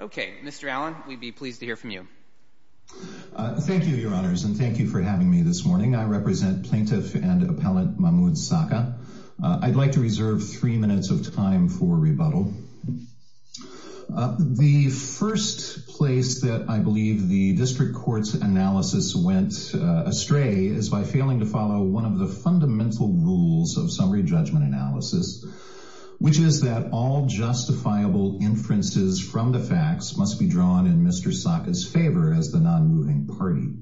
Okay, Mr. Allen, we'd be pleased to hear from you. Thank you, your honors, and thank you for having me this morning. I represent plaintiff and appellant Mahmoud Saqqa. I'd like to reserve three minutes of time for rebuttal. The first place that I believe the district court's analysis went astray is by failing to follow one of the fundamental rules of summary judgment analysis, which is that all justifiable inferences from the facts must be drawn in Mr. Saqqa's favor as the non-moving party.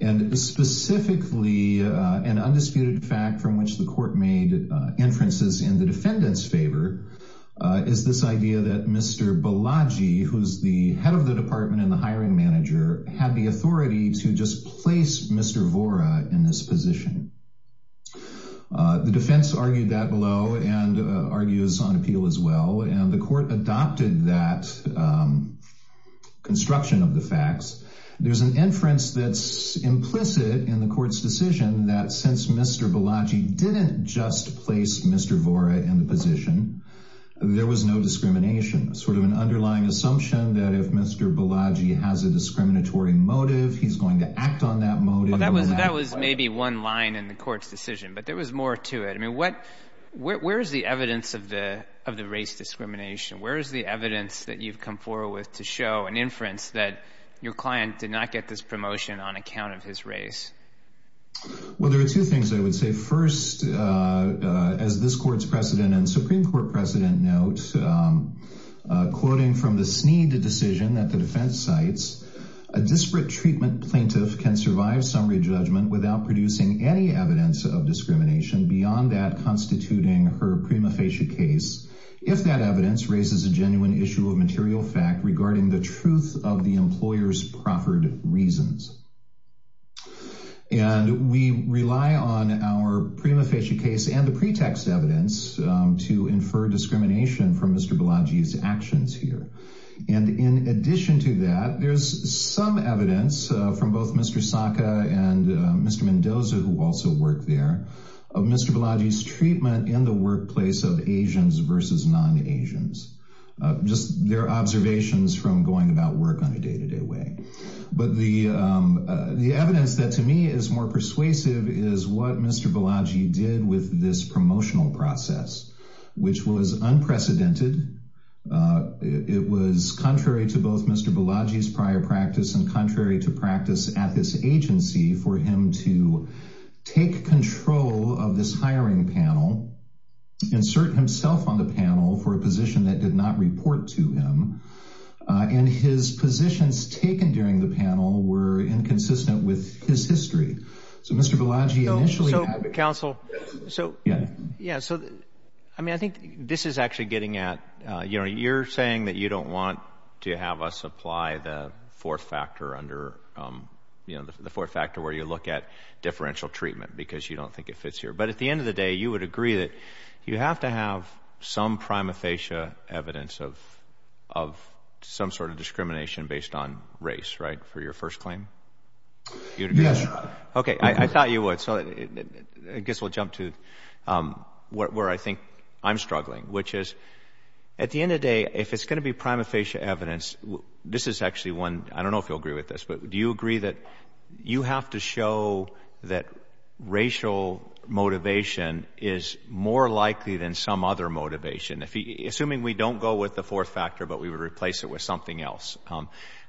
And specifically, an undisputed fact from which the court made inferences in the defendant's favor is this idea that Mr. Balaji, who's the head of the department and the hiring manager, had the authority to just place Mr. Vora in this position. The defense argued that below and argues on appeal as well, and the court adopted that construction of the facts. There's an inference that's implicit in the court's decision that since Mr. Balaji didn't just place Mr. Vora in the position, there was no discrimination, sort of an underlying assumption that if Mr. Balaji has a discriminatory motive, he's going to act on that motive. Well, that was maybe one line in the court's decision, but there was more to it. I mean, where's the evidence of the race discrimination? Where's the evidence that you've come forward with to show an inference that your client did not get this promotion on account of his race? Well, there are two things I would say. First, as this court's precedent and Supreme Court precedent notes, quoting from the Snead decision at the defense sites, a disparate treatment plaintiff can survive summary judgment without producing any evidence of discrimination beyond that constituting her prima facie case, if that evidence raises a genuine issue of material fact regarding the truth of the employer's proffered reasons. And we rely on our prima facie case and the pretext evidence to infer discrimination from Mr. Balaji's actions here. And in addition to that, there's some evidence from both Mr. Saka and Mr. Mendoza, who also worked there, of Mr. Balaji's treatment in the workplace of Asians versus non-Asians. Just their observations from going about work on a day-to-day way. But the evidence that to me is more persuasive is what Mr. Balaji did with this promotional process, which was unprecedented. It was contrary to both Mr. Balaji's prior practice and contrary to practice at this agency for him to take control of this hiring panel, insert himself on the panel for a position that did not report to him, and his positions taken during the panel were inconsistent with his history. So Mr. Balaji initially... So counsel, so yeah, so I mean, I think this is actually getting at, you know, you're saying that you don't want to have us apply the fourth factor under, you know, the fourth factor where you look at differential treatment because you don't think it fits here. But at the end of the day, you would agree that you have to have some prima facie evidence of some sort of discrimination based on race, right, for your first claim? Yes. Okay. I thought you would. So I guess we'll jump to where I think I'm struggling, which is at the end of the day, if it's going to be prima facie evidence, this is actually one, I don't know if you'll agree with this, but do you agree that you have to show that racial motivation is more likely than some other motivation? Assuming we don't go with the fourth factor, but we would replace it with something else.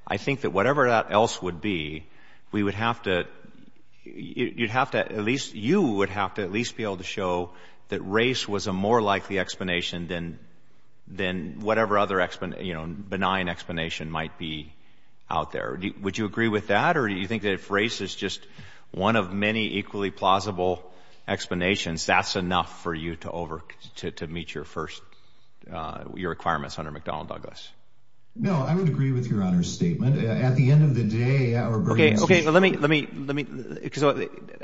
I think that whatever that else would be, we would have to, you'd have to at least, you would have to at least be able to show that race was a more likely explanation than, than whatever other, you know, benign explanation might be out there. Would you agree with that? Or do you think that if race is just one of many equally plausible explanations, that's enough for you to over, to meet your first, your requirements under McDonnell Douglas? No, I would agree with your Honor's statement. At the end of the day, our burden is... Okay. Okay. Well, let me, let me, let me, because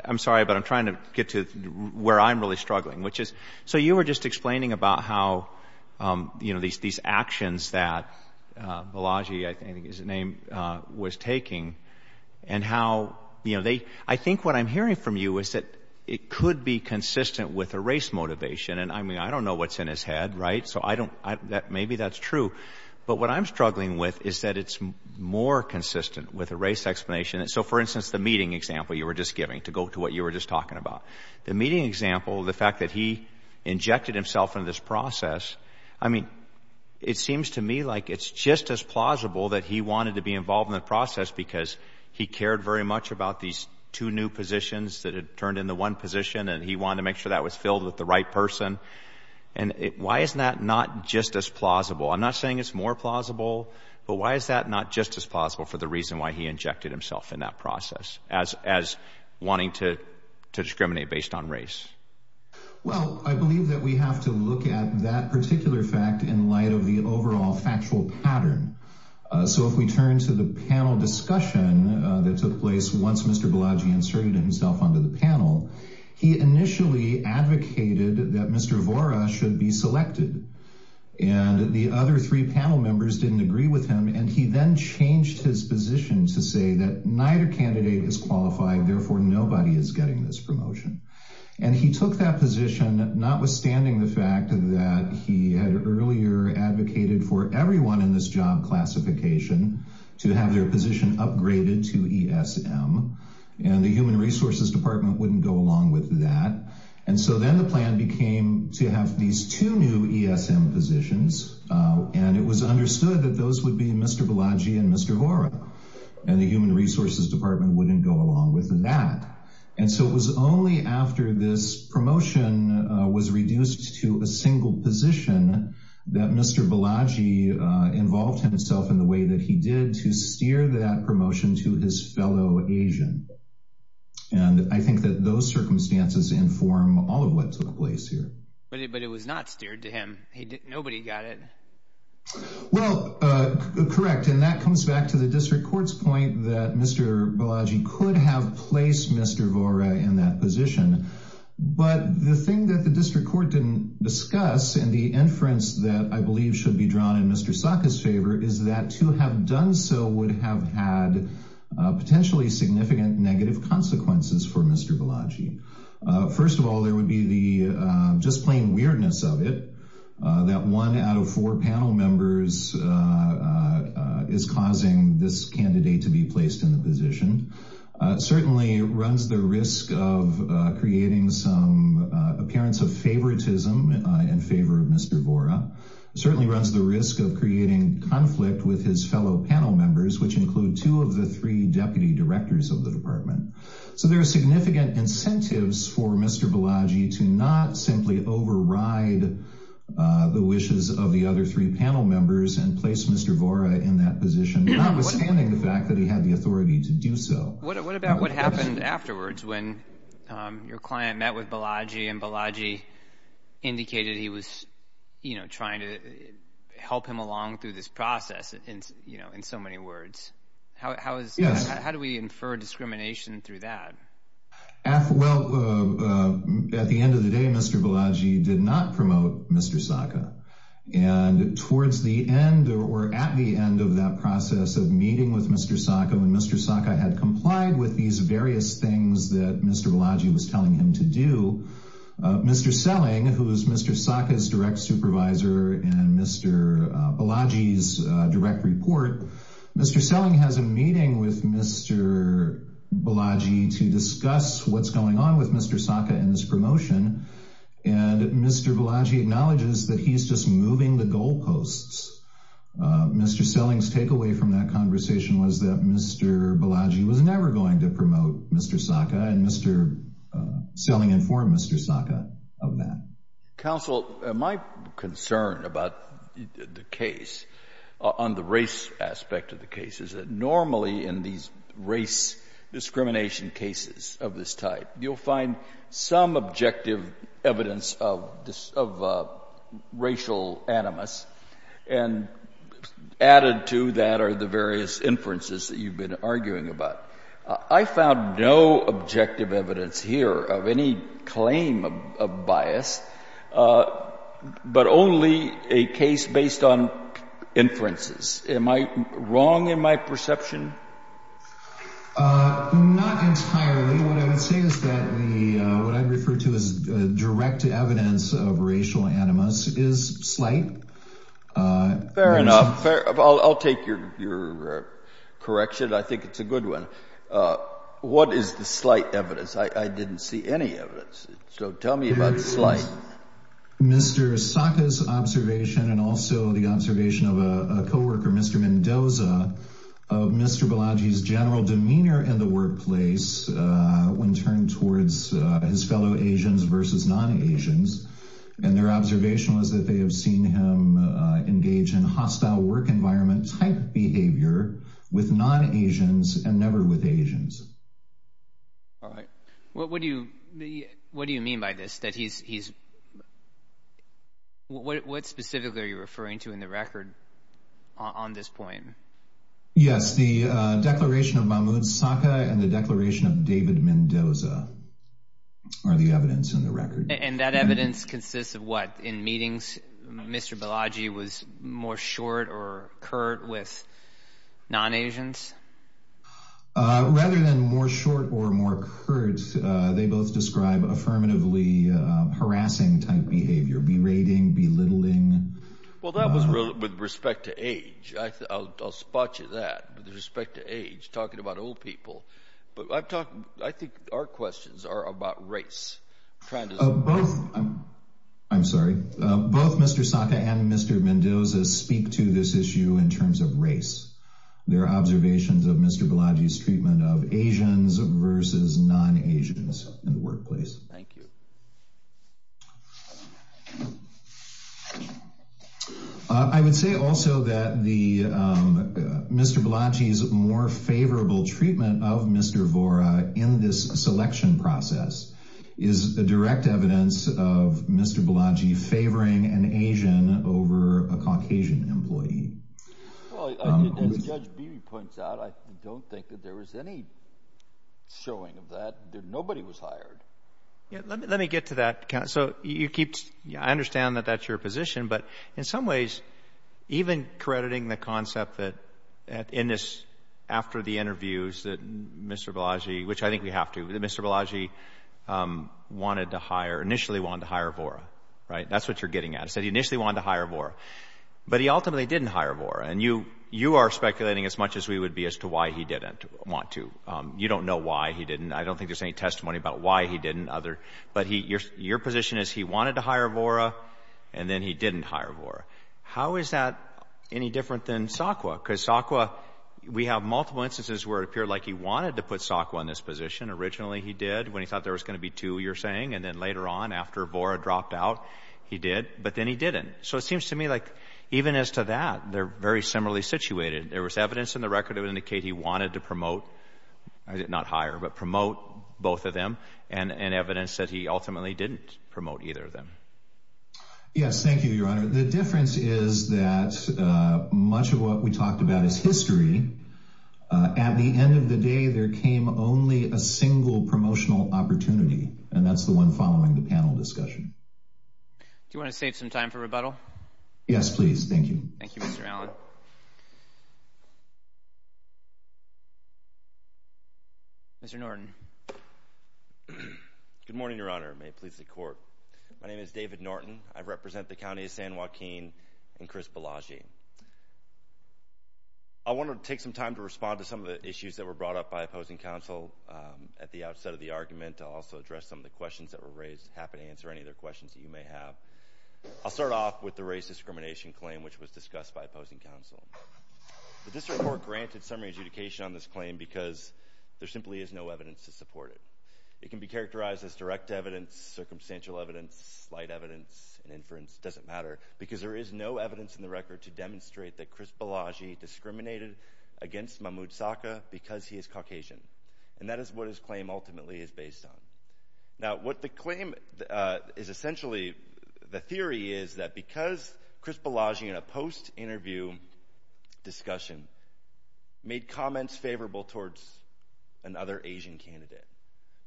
I'm sorry, but I'm trying to get to where I'm really struggling, which is, so you were just explaining about how, you know, these, these actions that Balaji, I think his name was taking and how, you know, they, I think what I'm hearing from you is that it could be consistent with a race motivation. And I mean, I don't know what's in his head, right? So I don't, that maybe that's true, but what I'm struggling with is that it's more consistent with a race explanation. So for instance, the meeting example you were just giving to go to what you were just talking about, the meeting example, the fact that he injected himself into this process, I mean, it seems to me like it's just as plausible that he wanted to be involved in the process because he cared very much about these two new positions that had turned into one position. And he wanted to make sure that was filled with the right person. And why isn't that not just as plausible? I'm not saying it's more plausible, but why is that not just as plausible for the reason why he injected himself in that process as, as wanting to, to discriminate based on race? Well, I believe that we have to look at that particular fact in light of the overall factual pattern. So if we turn to the panel discussion that took place, once Mr. Balaji inserted himself onto the panel, he initially advocated that Mr. Vora should be selected and the other three panel members didn't agree with him. And he then changed his position to say that neither candidate is qualified, therefore nobody is getting this promotion. And he took that position, not withstanding the fact that he had earlier advocated for everyone in this job classification to have their position upgraded to ESM and the human resources department wouldn't go along with that. And so then the plan became to have these two new ESM positions. And it was understood that those would be Mr. Balaji and Mr. Vora and the human resources department wouldn't go along with that. And so it was only after this promotion was reduced to a single position that Mr. Balaji involved himself in the way that he did to steer that promotion to his fellow Asian. And I think that those circumstances inform all of what took place here. But it was not steered to him. Nobody got it. Well, correct. And that comes back to the district court's point that Mr. Balaji could have placed Mr. Vora in that position. But the thing that the district court didn't discuss and the inference that I believe should be drawn in Mr. Saka's favor is that to have done so would have had potentially significant negative consequences for Mr. Balaji. First of all, there would be the just plain weirdness of it that one out of four panel members is causing this candidate to be placed in the position. Certainly runs the risk of creating some appearance of favoritism in favor of Mr. Vora. Certainly runs the risk of creating conflict with his fellow panel members, which include two of the three deputy directors of the department. So there are significant incentives for Mr. Balaji to not simply override the wishes of the other three panel members and place Mr. Vora in that position, notwithstanding the fact that he had the authority to do so. What about what happened afterwards when your client met with Balaji and Balaji indicated he was trying to help him along through this process in so many words? Yes. How do we infer discrimination through that? Well, at the end of the day, Mr. Balaji did not promote Mr. Saka. And towards the end or at the end of that process of meeting with Mr. Saka when Mr. Saka had complied with these various things that Mr. Balaji was telling him to do, Mr. Selling, who was Mr. Saka's direct supervisor and Mr. Balaji's direct report, Mr. Selling has a meeting with Mr. Balaji to discuss what's going on with Mr. Saka and his promotion. And Mr. Balaji acknowledges that he's just moving the goalposts. Mr. Selling's takeaway from that conversation was that Mr. Balaji was never going to promote Mr. Saka, and Mr. Selling informed Mr. Saka of that. Counsel, my concern about the case, on the race aspect of the case, is that normally in these race discrimination cases of this type, you'll find some objective evidence of racial animus, and added to that are the various inferences that you've been arguing about. I found no objective evidence here of any claim of bias, but only a case based on inferences. Am I wrong in my perception? Not entirely. What I would say is that what I refer to as direct evidence of racial animus is slight. Fair enough. I'll take your correction. I think it's a good one. What is the slight evidence? I didn't see any evidence. So tell me about the slight. Mr. Saka's observation and also the observation of a co-worker, Mr. Mendoza, of Mr. Balaji's general demeanor in the workplace when turned towards his fellow Asians versus non-Asians, and their observation was that they have seen him engage in hostile work environment type behavior with non-Asians and never with Asians. All right. What do you mean by this? What specifically are you referring to in the record on this point? Yes, the declaration of Mahmoud Saka and the declaration of David Mendoza are the evidence in the record. And that evidence consists of what? In meetings, Mr. Balaji was more short or curt with non-Asians? Rather than more short or more curt, they both describe affirmatively harassing type behavior, berating, belittling. Well, that was with respect to age. I'll spot you that with respect to age, talking about old people. But I think our questions are about race. Both, I'm sorry, both Mr. Saka and Mr. Mendoza speak to this issue in terms of race. Their observations of Mr. Balaji's treatment of Asians versus non-Asians in the workplace. Thank you. I would say also that Mr. Balaji's more favorable treatment of Mr. Vora in this selection process is a direct evidence of Mr. Balaji favoring an Asian over a Caucasian employee. Well, as Judge Beebe points out, I don't think that there was any showing of that. Nobody was hired. Let me get to that. So you keep, I understand that that's your position. But in some ways, even crediting the concept that in this, after the interviews that Mr. Balaji, which I think we have to, Mr. Balaji wanted to hire, initially wanted to hire Vora, right? That's what you're getting at. He initially wanted to hire Vora. But he ultimately didn't hire Vora. And you are speculating as much as we would be as to why he didn't want to. You don't know why he didn't. I don't think there's any testimony about why he didn't. But your position is he wanted to hire Vora, and then he didn't hire Vora. How is that any different than SAKWA? Because SAKWA, we have multiple instances where it originally he did when he thought there was going to be two, you're saying. And then later on, after Vora dropped out, he did. But then he didn't. So it seems to me like even as to that, they're very similarly situated. There was evidence in the record to indicate he wanted to promote, not hire, but promote both of them, and evidence that he ultimately didn't promote either of them. Yes, thank you, Your Honor. The difference is that much of what we talked about is history. At the end of the day, there came only a single promotional opportunity, and that's the one following the panel discussion. Do you want to save some time for rebuttal? Yes, please. Thank you. Thank you, Mr. Allen. Mr. Norton. Good morning, Your Honor. May it please the Court. My name is David Norton. I represent the County of San Joaquin and Chris Bellagio. I want to take some time to respond to some of the issues that were brought up by opposing counsel at the outset of the argument. I'll also address some of the questions that were raised, happy to answer any other questions that you may have. I'll start off with the race discrimination claim, which was discussed by opposing counsel. The district court granted summary adjudication on this claim because there simply is no evidence to support it. It can be characterized as direct evidence, circumstantial evidence, slight evidence, and inference. It doesn't matter because there is no evidence in the record to demonstrate that Chris Bellagio discriminated against Mahmoud Saka because he is Caucasian, and that is what his claim ultimately is based on. Now, what the claim is essentially, the theory is that because Chris Bellagio, in a post-interview discussion, made comments favorable towards another Asian candidate,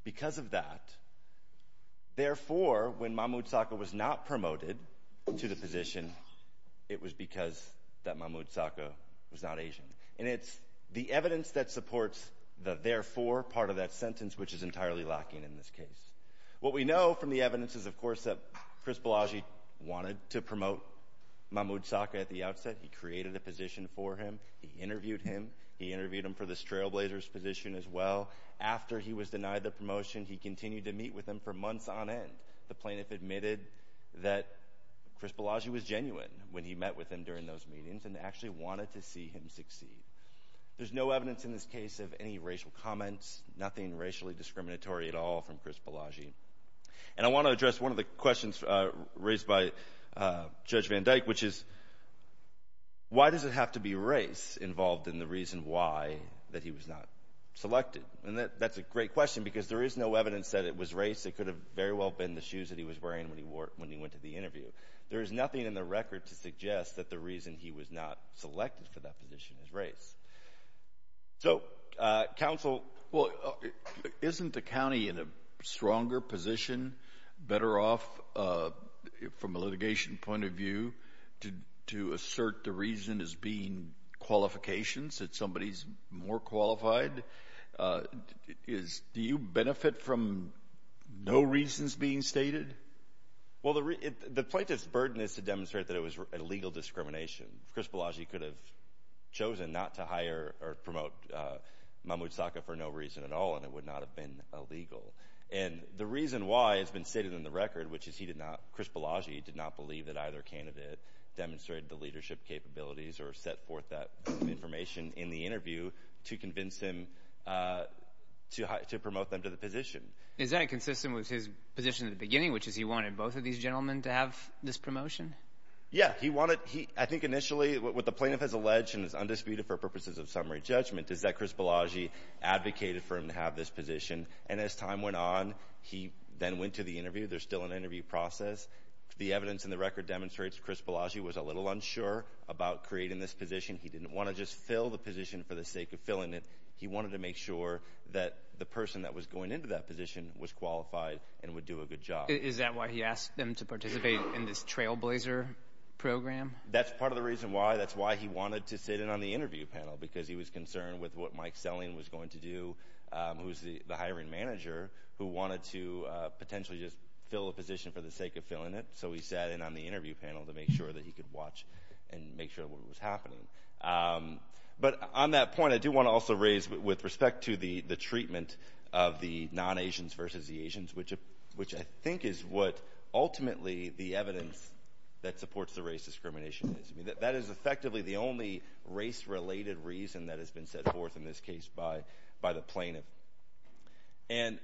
because of that, therefore, when Mahmoud Saka was not promoted to the position, it was because that Mahmoud Saka was not Asian. And it's the evidence that supports the therefore part of that sentence which is entirely lacking in this case. What we know from the evidence is, of course, that Chris Bellagio wanted to promote Mahmoud Saka at the outset. He created a position for him. He interviewed him. He interviewed him for the trailblazers position as well. After he was denied the promotion, he continued to meet with him for months on end. The plaintiff admitted that Chris Bellagio was genuine when he met with him during those meetings and actually wanted to see him succeed. There's no evidence in this case of any racial comments, nothing racially discriminatory at all from Chris Bellagio. And I want to address one of the questions raised by Judge Van Dyke, which is, why does it have to be race involved in the reason why that he was not selected? And that's a great question because there is no evidence that it was race. It could have very well been the shoes that he was wearing when he went to the interview. There is nothing in the record to suggest that the reason he was not selected for that position is race. So, counsel? Well, isn't the county in a stronger position, better off from a litigation point of view, to assert the reason as being qualifications, that somebody's more qualified? Do you benefit from no reasons being stated? Well, the plaintiff's burden is to demonstrate that it was a legal discrimination. Chris Bellagio could have chosen not to hire or promote Mahmoud Saka for no reason at all, and it would not have been illegal. And the reason why it's been stated in the record, which is he did not, Chris Bellagio did not believe that either candidate demonstrated the leadership capabilities or set forth that information in the interview to convince him to promote them to the position. Is that consistent with his position at the beginning, which is he wanted both of these gentlemen to have this promotion? Yeah, he wanted, I think initially, what the plaintiff has alleged and is undisputed for purposes of summary judgment is that Chris Bellagio advocated for him to have this position. And as time went on, he then went to the interview. There's still an interview process. The evidence in the record demonstrates Chris Bellagio was a little unsure about creating this position. He didn't want to just fill the position for the sake of filling it. He wanted to make sure that the person that was going into that position was qualified and would do a good job. Is that why he asked them to participate in this trailblazer program? That's part of the reason why. That's why he wanted to sit in on the interview panel, because he was concerned with what Mike Selling was going to do, who's the hiring manager, who wanted to potentially just fill a position for the sake of filling it. So he sat in on the interview. But on that point, I do want to also raise, with respect to the treatment of the non-Asians versus the Asians, which I think is what ultimately the evidence that supports the race discrimination is. I mean, that is effectively the only race-related reason that has been set forth in this case by the plaintiff. And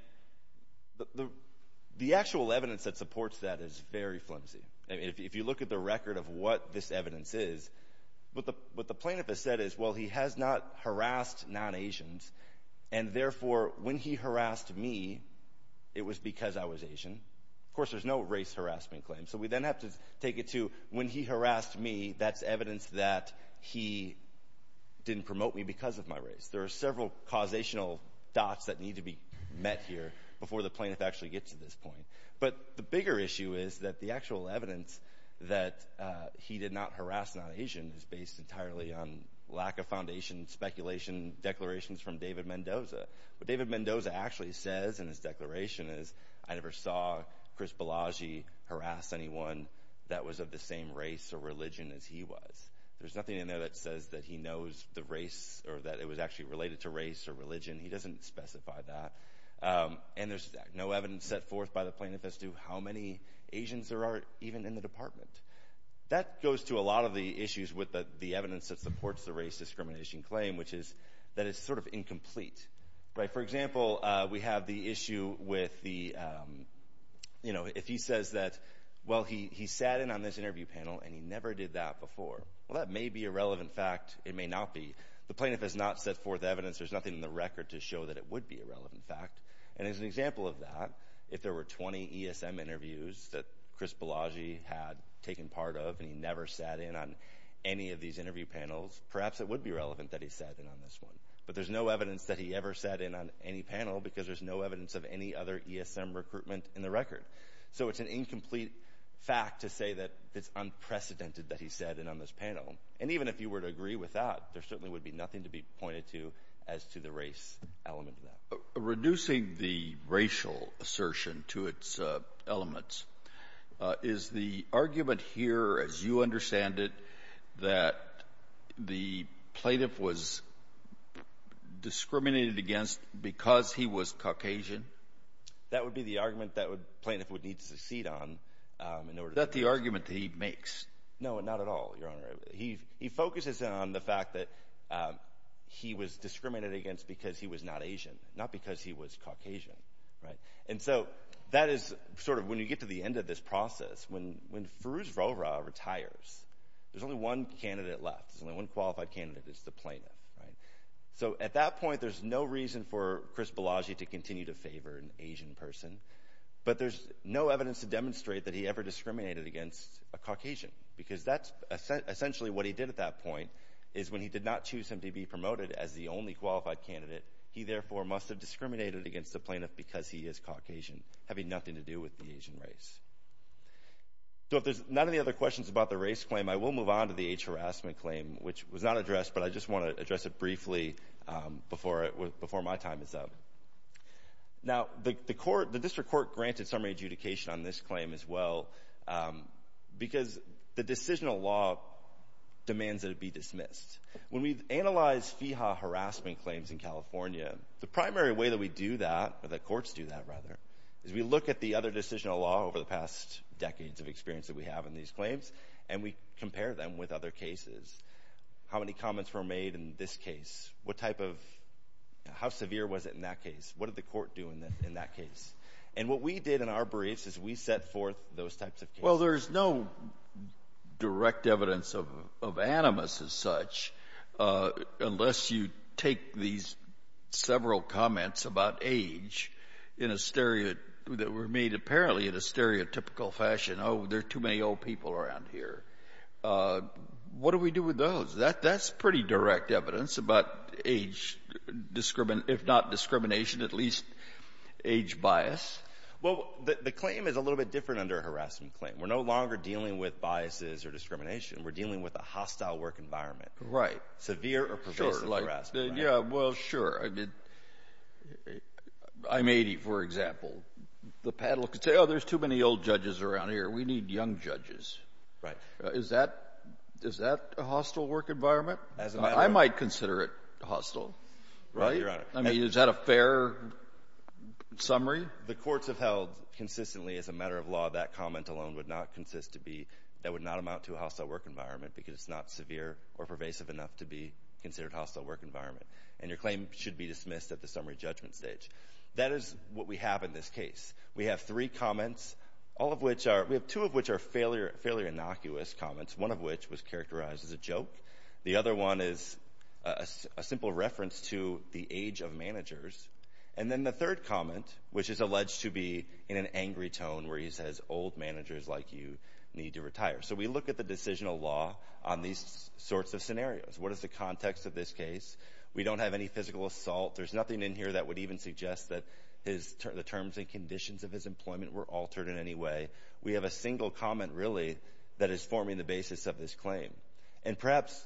the actual evidence that supports that is very flimsy. If you look at the record of what this evidence is, what the plaintiff has said is, well, he has not harassed non-Asians, and therefore, when he harassed me, it was because I was Asian. Of course, there's no race harassment claim. So we then have to take it to, when he harassed me, that's evidence that he didn't promote me because of my race. There are several causational dots that need to be met here before the plaintiff actually gets to this point. But the bigger issue is that the evidence that he did not harass non-Asians is based entirely on lack of foundation, speculation, declarations from David Mendoza. What David Mendoza actually says in his declaration is, I never saw Chris Bellagy harass anyone that was of the same race or religion as he was. There's nothing in there that says that he knows the race or that it was actually related to race or religion. He doesn't specify that. And there's no evidence set forth by the plaintiff as to how many Asians there are even in the department. That goes to a lot of the issues with the evidence that supports the race discrimination claim, which is that it's sort of incomplete. Right? For example, we have the issue with the, you know, if he says that, well, he sat in on this interview panel and he never did that before. Well, that may be a relevant fact. It may not be. The plaintiff has not set forth evidence. There's nothing in the record to show that it would be a relevant fact. And as an example of that, if there were 20 ESM interviews that Chris Bellagy had taken part of, and he never sat in on any of these interview panels, perhaps it would be relevant that he sat in on this one. But there's no evidence that he ever sat in on any panel because there's no evidence of any other ESM recruitment in the record. So it's an incomplete fact to say that it's unprecedented that he sat in on this panel. And even if you were to agree with that, there the racial assertion to its elements. Is the argument here, as you understand it, that the plaintiff was discriminated against because he was Caucasian? That would be the argument that plaintiff would need to succeed on. Is that the argument that he makes? No, not at all, Your Honor. He focuses on the fact that he was discriminated against because he was not Asian, not because he was Caucasian, right? And so that is sort of, when you get to the end of this process, when Feruz Rohra retires, there's only one candidate left, there's only one qualified candidate, it's the plaintiff, right? So at that point, there's no reason for Chris Bellagy to continue to favor an Asian person. But there's no evidence to demonstrate that he ever discriminated against a Caucasian, because that's essentially what he did at that point, is when he did not choose him to be he therefore must have discriminated against the plaintiff because he is Caucasian, having nothing to do with the Asian race. So if there's none of the other questions about the race claim, I will move on to the age harassment claim, which was not addressed, but I just want to address it briefly before my time is up. Now, the court, the district court granted summary adjudication on this claim as well, because the decisional law demands that it be dismissed. When we analyze FIHA harassment claims in California, the primary way that we do that, or the courts do that rather, is we look at the other decisional law over the past decades of experience that we have in these claims, and we compare them with other cases. How many comments were made in this case? What type of, how severe was it in that case? What did the court do in that case? And what we did in our briefs is we set forth those types of cases. Well, there's no direct evidence of animus as such, unless you take these several comments about age in a stereo, that were made apparently in a stereotypical fashion. Oh, there are too many old people around here. What do we do with those? That's pretty direct evidence about age, if not discrimination, at least age bias. Well, the claim is a little bit different under a harassment claim. We're no longer dealing with biases or discrimination. We're dealing with a hostile work environment. Right. Severe or pervasive harassment. Yeah, well, sure. I mean, I'm 80, for example. The panel could say, oh, there's too many old judges around here. We need young judges. Right. Is that a hostile work environment? As a matter of fact. I might consider it hostile. Right, Your Honor. I mean, is that a fair summary? The courts have held consistently, as a matter of law, that comment alone would not consist to be, that would not amount to a hostile work environment, because it's not severe or pervasive enough to be considered a hostile work environment. And your claim should be dismissed at the summary judgment stage. That is what we have in this case. We have three comments, all of which are, we have two of which are fairly innocuous comments, one of which was characterized as a joke. The other one is a simple reference to the age of managers. And then the third comment, which is alleged to be in an angry tone where he says, old managers like you need to retire. So we look at the decisional law on these sorts of scenarios. What is the context of this case? We don't have any physical assault. There's nothing in here that would even suggest that the terms and conditions of his employment were altered in any way. We have a single comment, really, that is forming the basis of this claim. And perhaps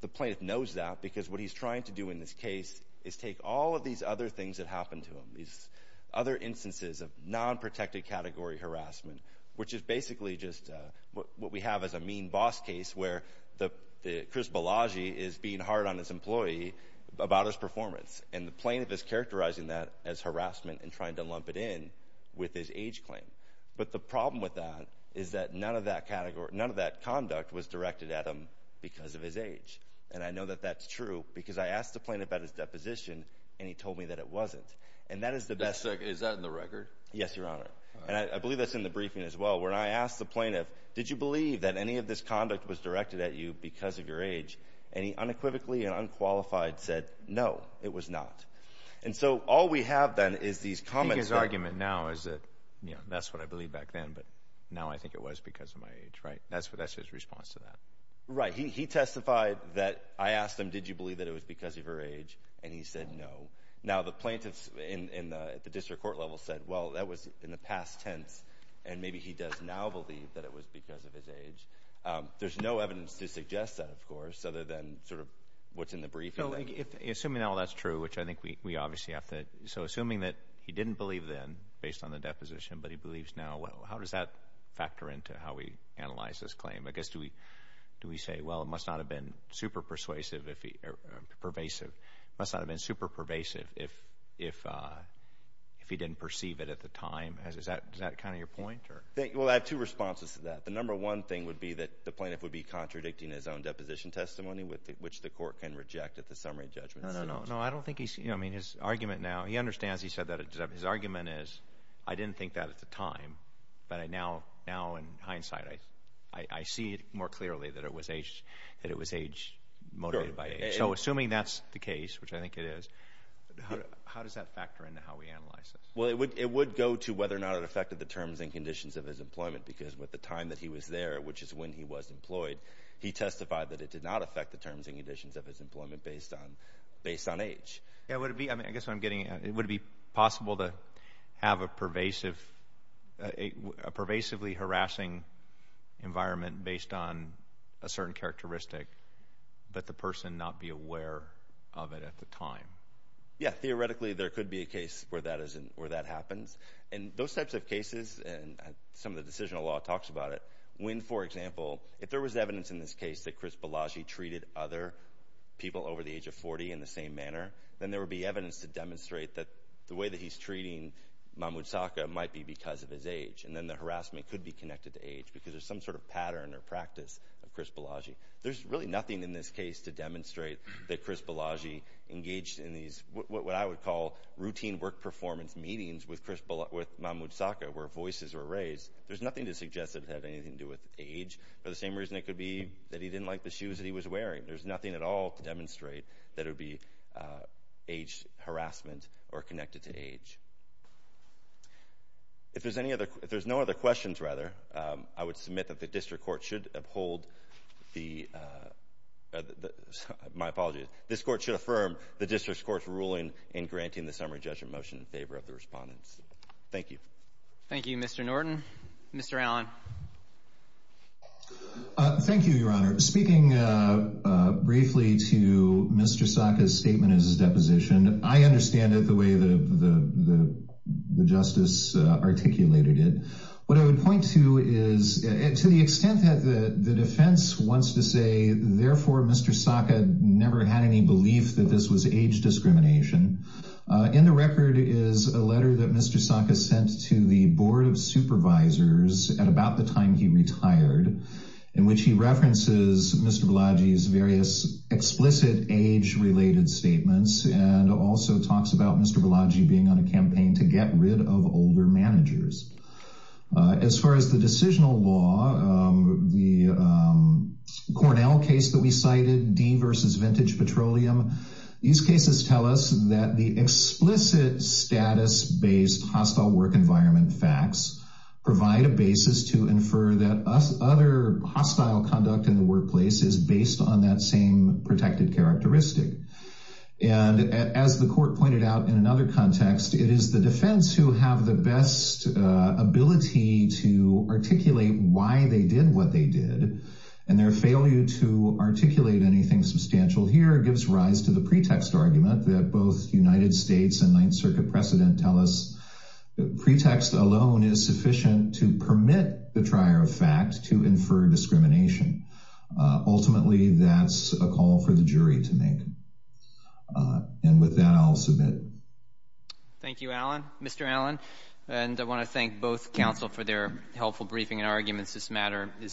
the plaintiff knows that, because what he's trying to do in this case is take all of these other things that happened to him, these other instances of non-protected category harassment, which is basically just what we have as a mean boss case, where Chris Bellagio is being hard on his employee about his performance. And the plaintiff is characterizing that as harassment and trying to lump it in with his age claim. But the problem with that is that none of that conduct was directed at him because of his age. And I know that's true, because I asked the plaintiff about his deposition, and he told me that it wasn't. And that is the best... Is that in the record? Yes, Your Honor. And I believe that's in the briefing as well, where I asked the plaintiff, did you believe that any of this conduct was directed at you because of your age? And he unequivocally and unqualified said, no, it was not. And so all we have then is these comments... I think his argument now is that, you know, that's what I believed back then, but now I think it was because of my age, right? That's his response to that. Right. He testified that I asked him, did you believe that it was because of your age? And he said, no. Now, the plaintiffs in the district court level said, well, that was in the past tense, and maybe he does now believe that it was because of his age. There's no evidence to suggest that, of course, other than sort of what's in the briefing. Assuming all that's true, which I think we obviously have to... So assuming that he didn't believe then based on the deposition, but he believes now, well, how does that factor into how we analyze this claim? I guess, do we say, well, it must not have been super persuasive... pervasive. It must not have been super pervasive if he didn't perceive it at the time? Is that kind of your point? Well, I have two responses to that. The number one thing would be that the plaintiff would be contradicting his own deposition testimony, which the court can reject at the summary judgment. No, no, no. I don't think he's... I mean, his argument now, he understands he said that. His argument is, I didn't think that at the time, but now in hindsight, I see it more clearly that it was age motivated by age. So assuming that's the case, which I think it is, how does that factor into how we analyze this? Well, it would go to whether or not it affected the terms and conditions of his employment, because with the time that he was there, which is when he was employed, he testified that it did not affect the terms and conditions of his employment based on age. Yeah, would it be... I mean, I guess what I'm getting at, would it be possible to have a pervasively harassing environment based on a certain characteristic, but the person not be aware of it at the time? Yeah. Theoretically, there could be a case where that happens. And those types of cases, and some of the decisional law talks about it, when, for example, if there was evidence in this case that Chris Bellagi treated other people over the age of 40 in the same manner, then there would be evidence to demonstrate that the way that he's treating Mahmoud Saqqa might be because of his age. And then the harassment could be connected to age, because there's some sort of pattern or practice of Chris Bellagi. There's really nothing in this case to demonstrate that Chris Bellagi engaged in these, what I would call routine work performance meetings with Mahmoud Saqqa, where voices were raised. There's nothing to suggest that it had anything to do with age, for the same reason it could be that he didn't like the shoes that he was wearing. There's nothing at all to demonstrate that it would be age harassment or connected to age. If there's any other, if there's no other questions, rather, I would submit that the district court should uphold the, my apologies, this court should affirm the district court's ruling in granting the summary judgment motion in favor of the respondents. Thank you. Thank you, Mr. Norton. Mr. Allen. Thank you, Your Honor. Speaking briefly to Mr. Saqqa's statement as a deposition, I understand it the way the justice articulated it. What I would point to is, to the extent that the defense wants to say, therefore, Mr. Saqqa never had any belief that this was age discrimination. In the record is a letter that Mr. Saqqa sent to the board of the time he retired, in which he references Mr. Balaji's various explicit age-related statements, and also talks about Mr. Balaji being on a campaign to get rid of older managers. As far as the decisional law, the Cornell case that we cited, D versus Vintage Petroleum, these cases tell us that the explicit status-based hostile work environment facts provide a basis to infer that other hostile conduct in the workplace is based on that same protected characteristic. And as the court pointed out in another context, it is the defense who have the best ability to articulate why they did what they did, and their failure to articulate anything substantial here gives rise to the pretext argument that both United States and Ninth to permit the trier of fact to infer discrimination. Ultimately, that's a call for the jury to make. And with that, I'll submit. Thank you, Allen. Mr. Allen, and I want to thank both counsel for their helpful briefing and arguments. This matter is submitted.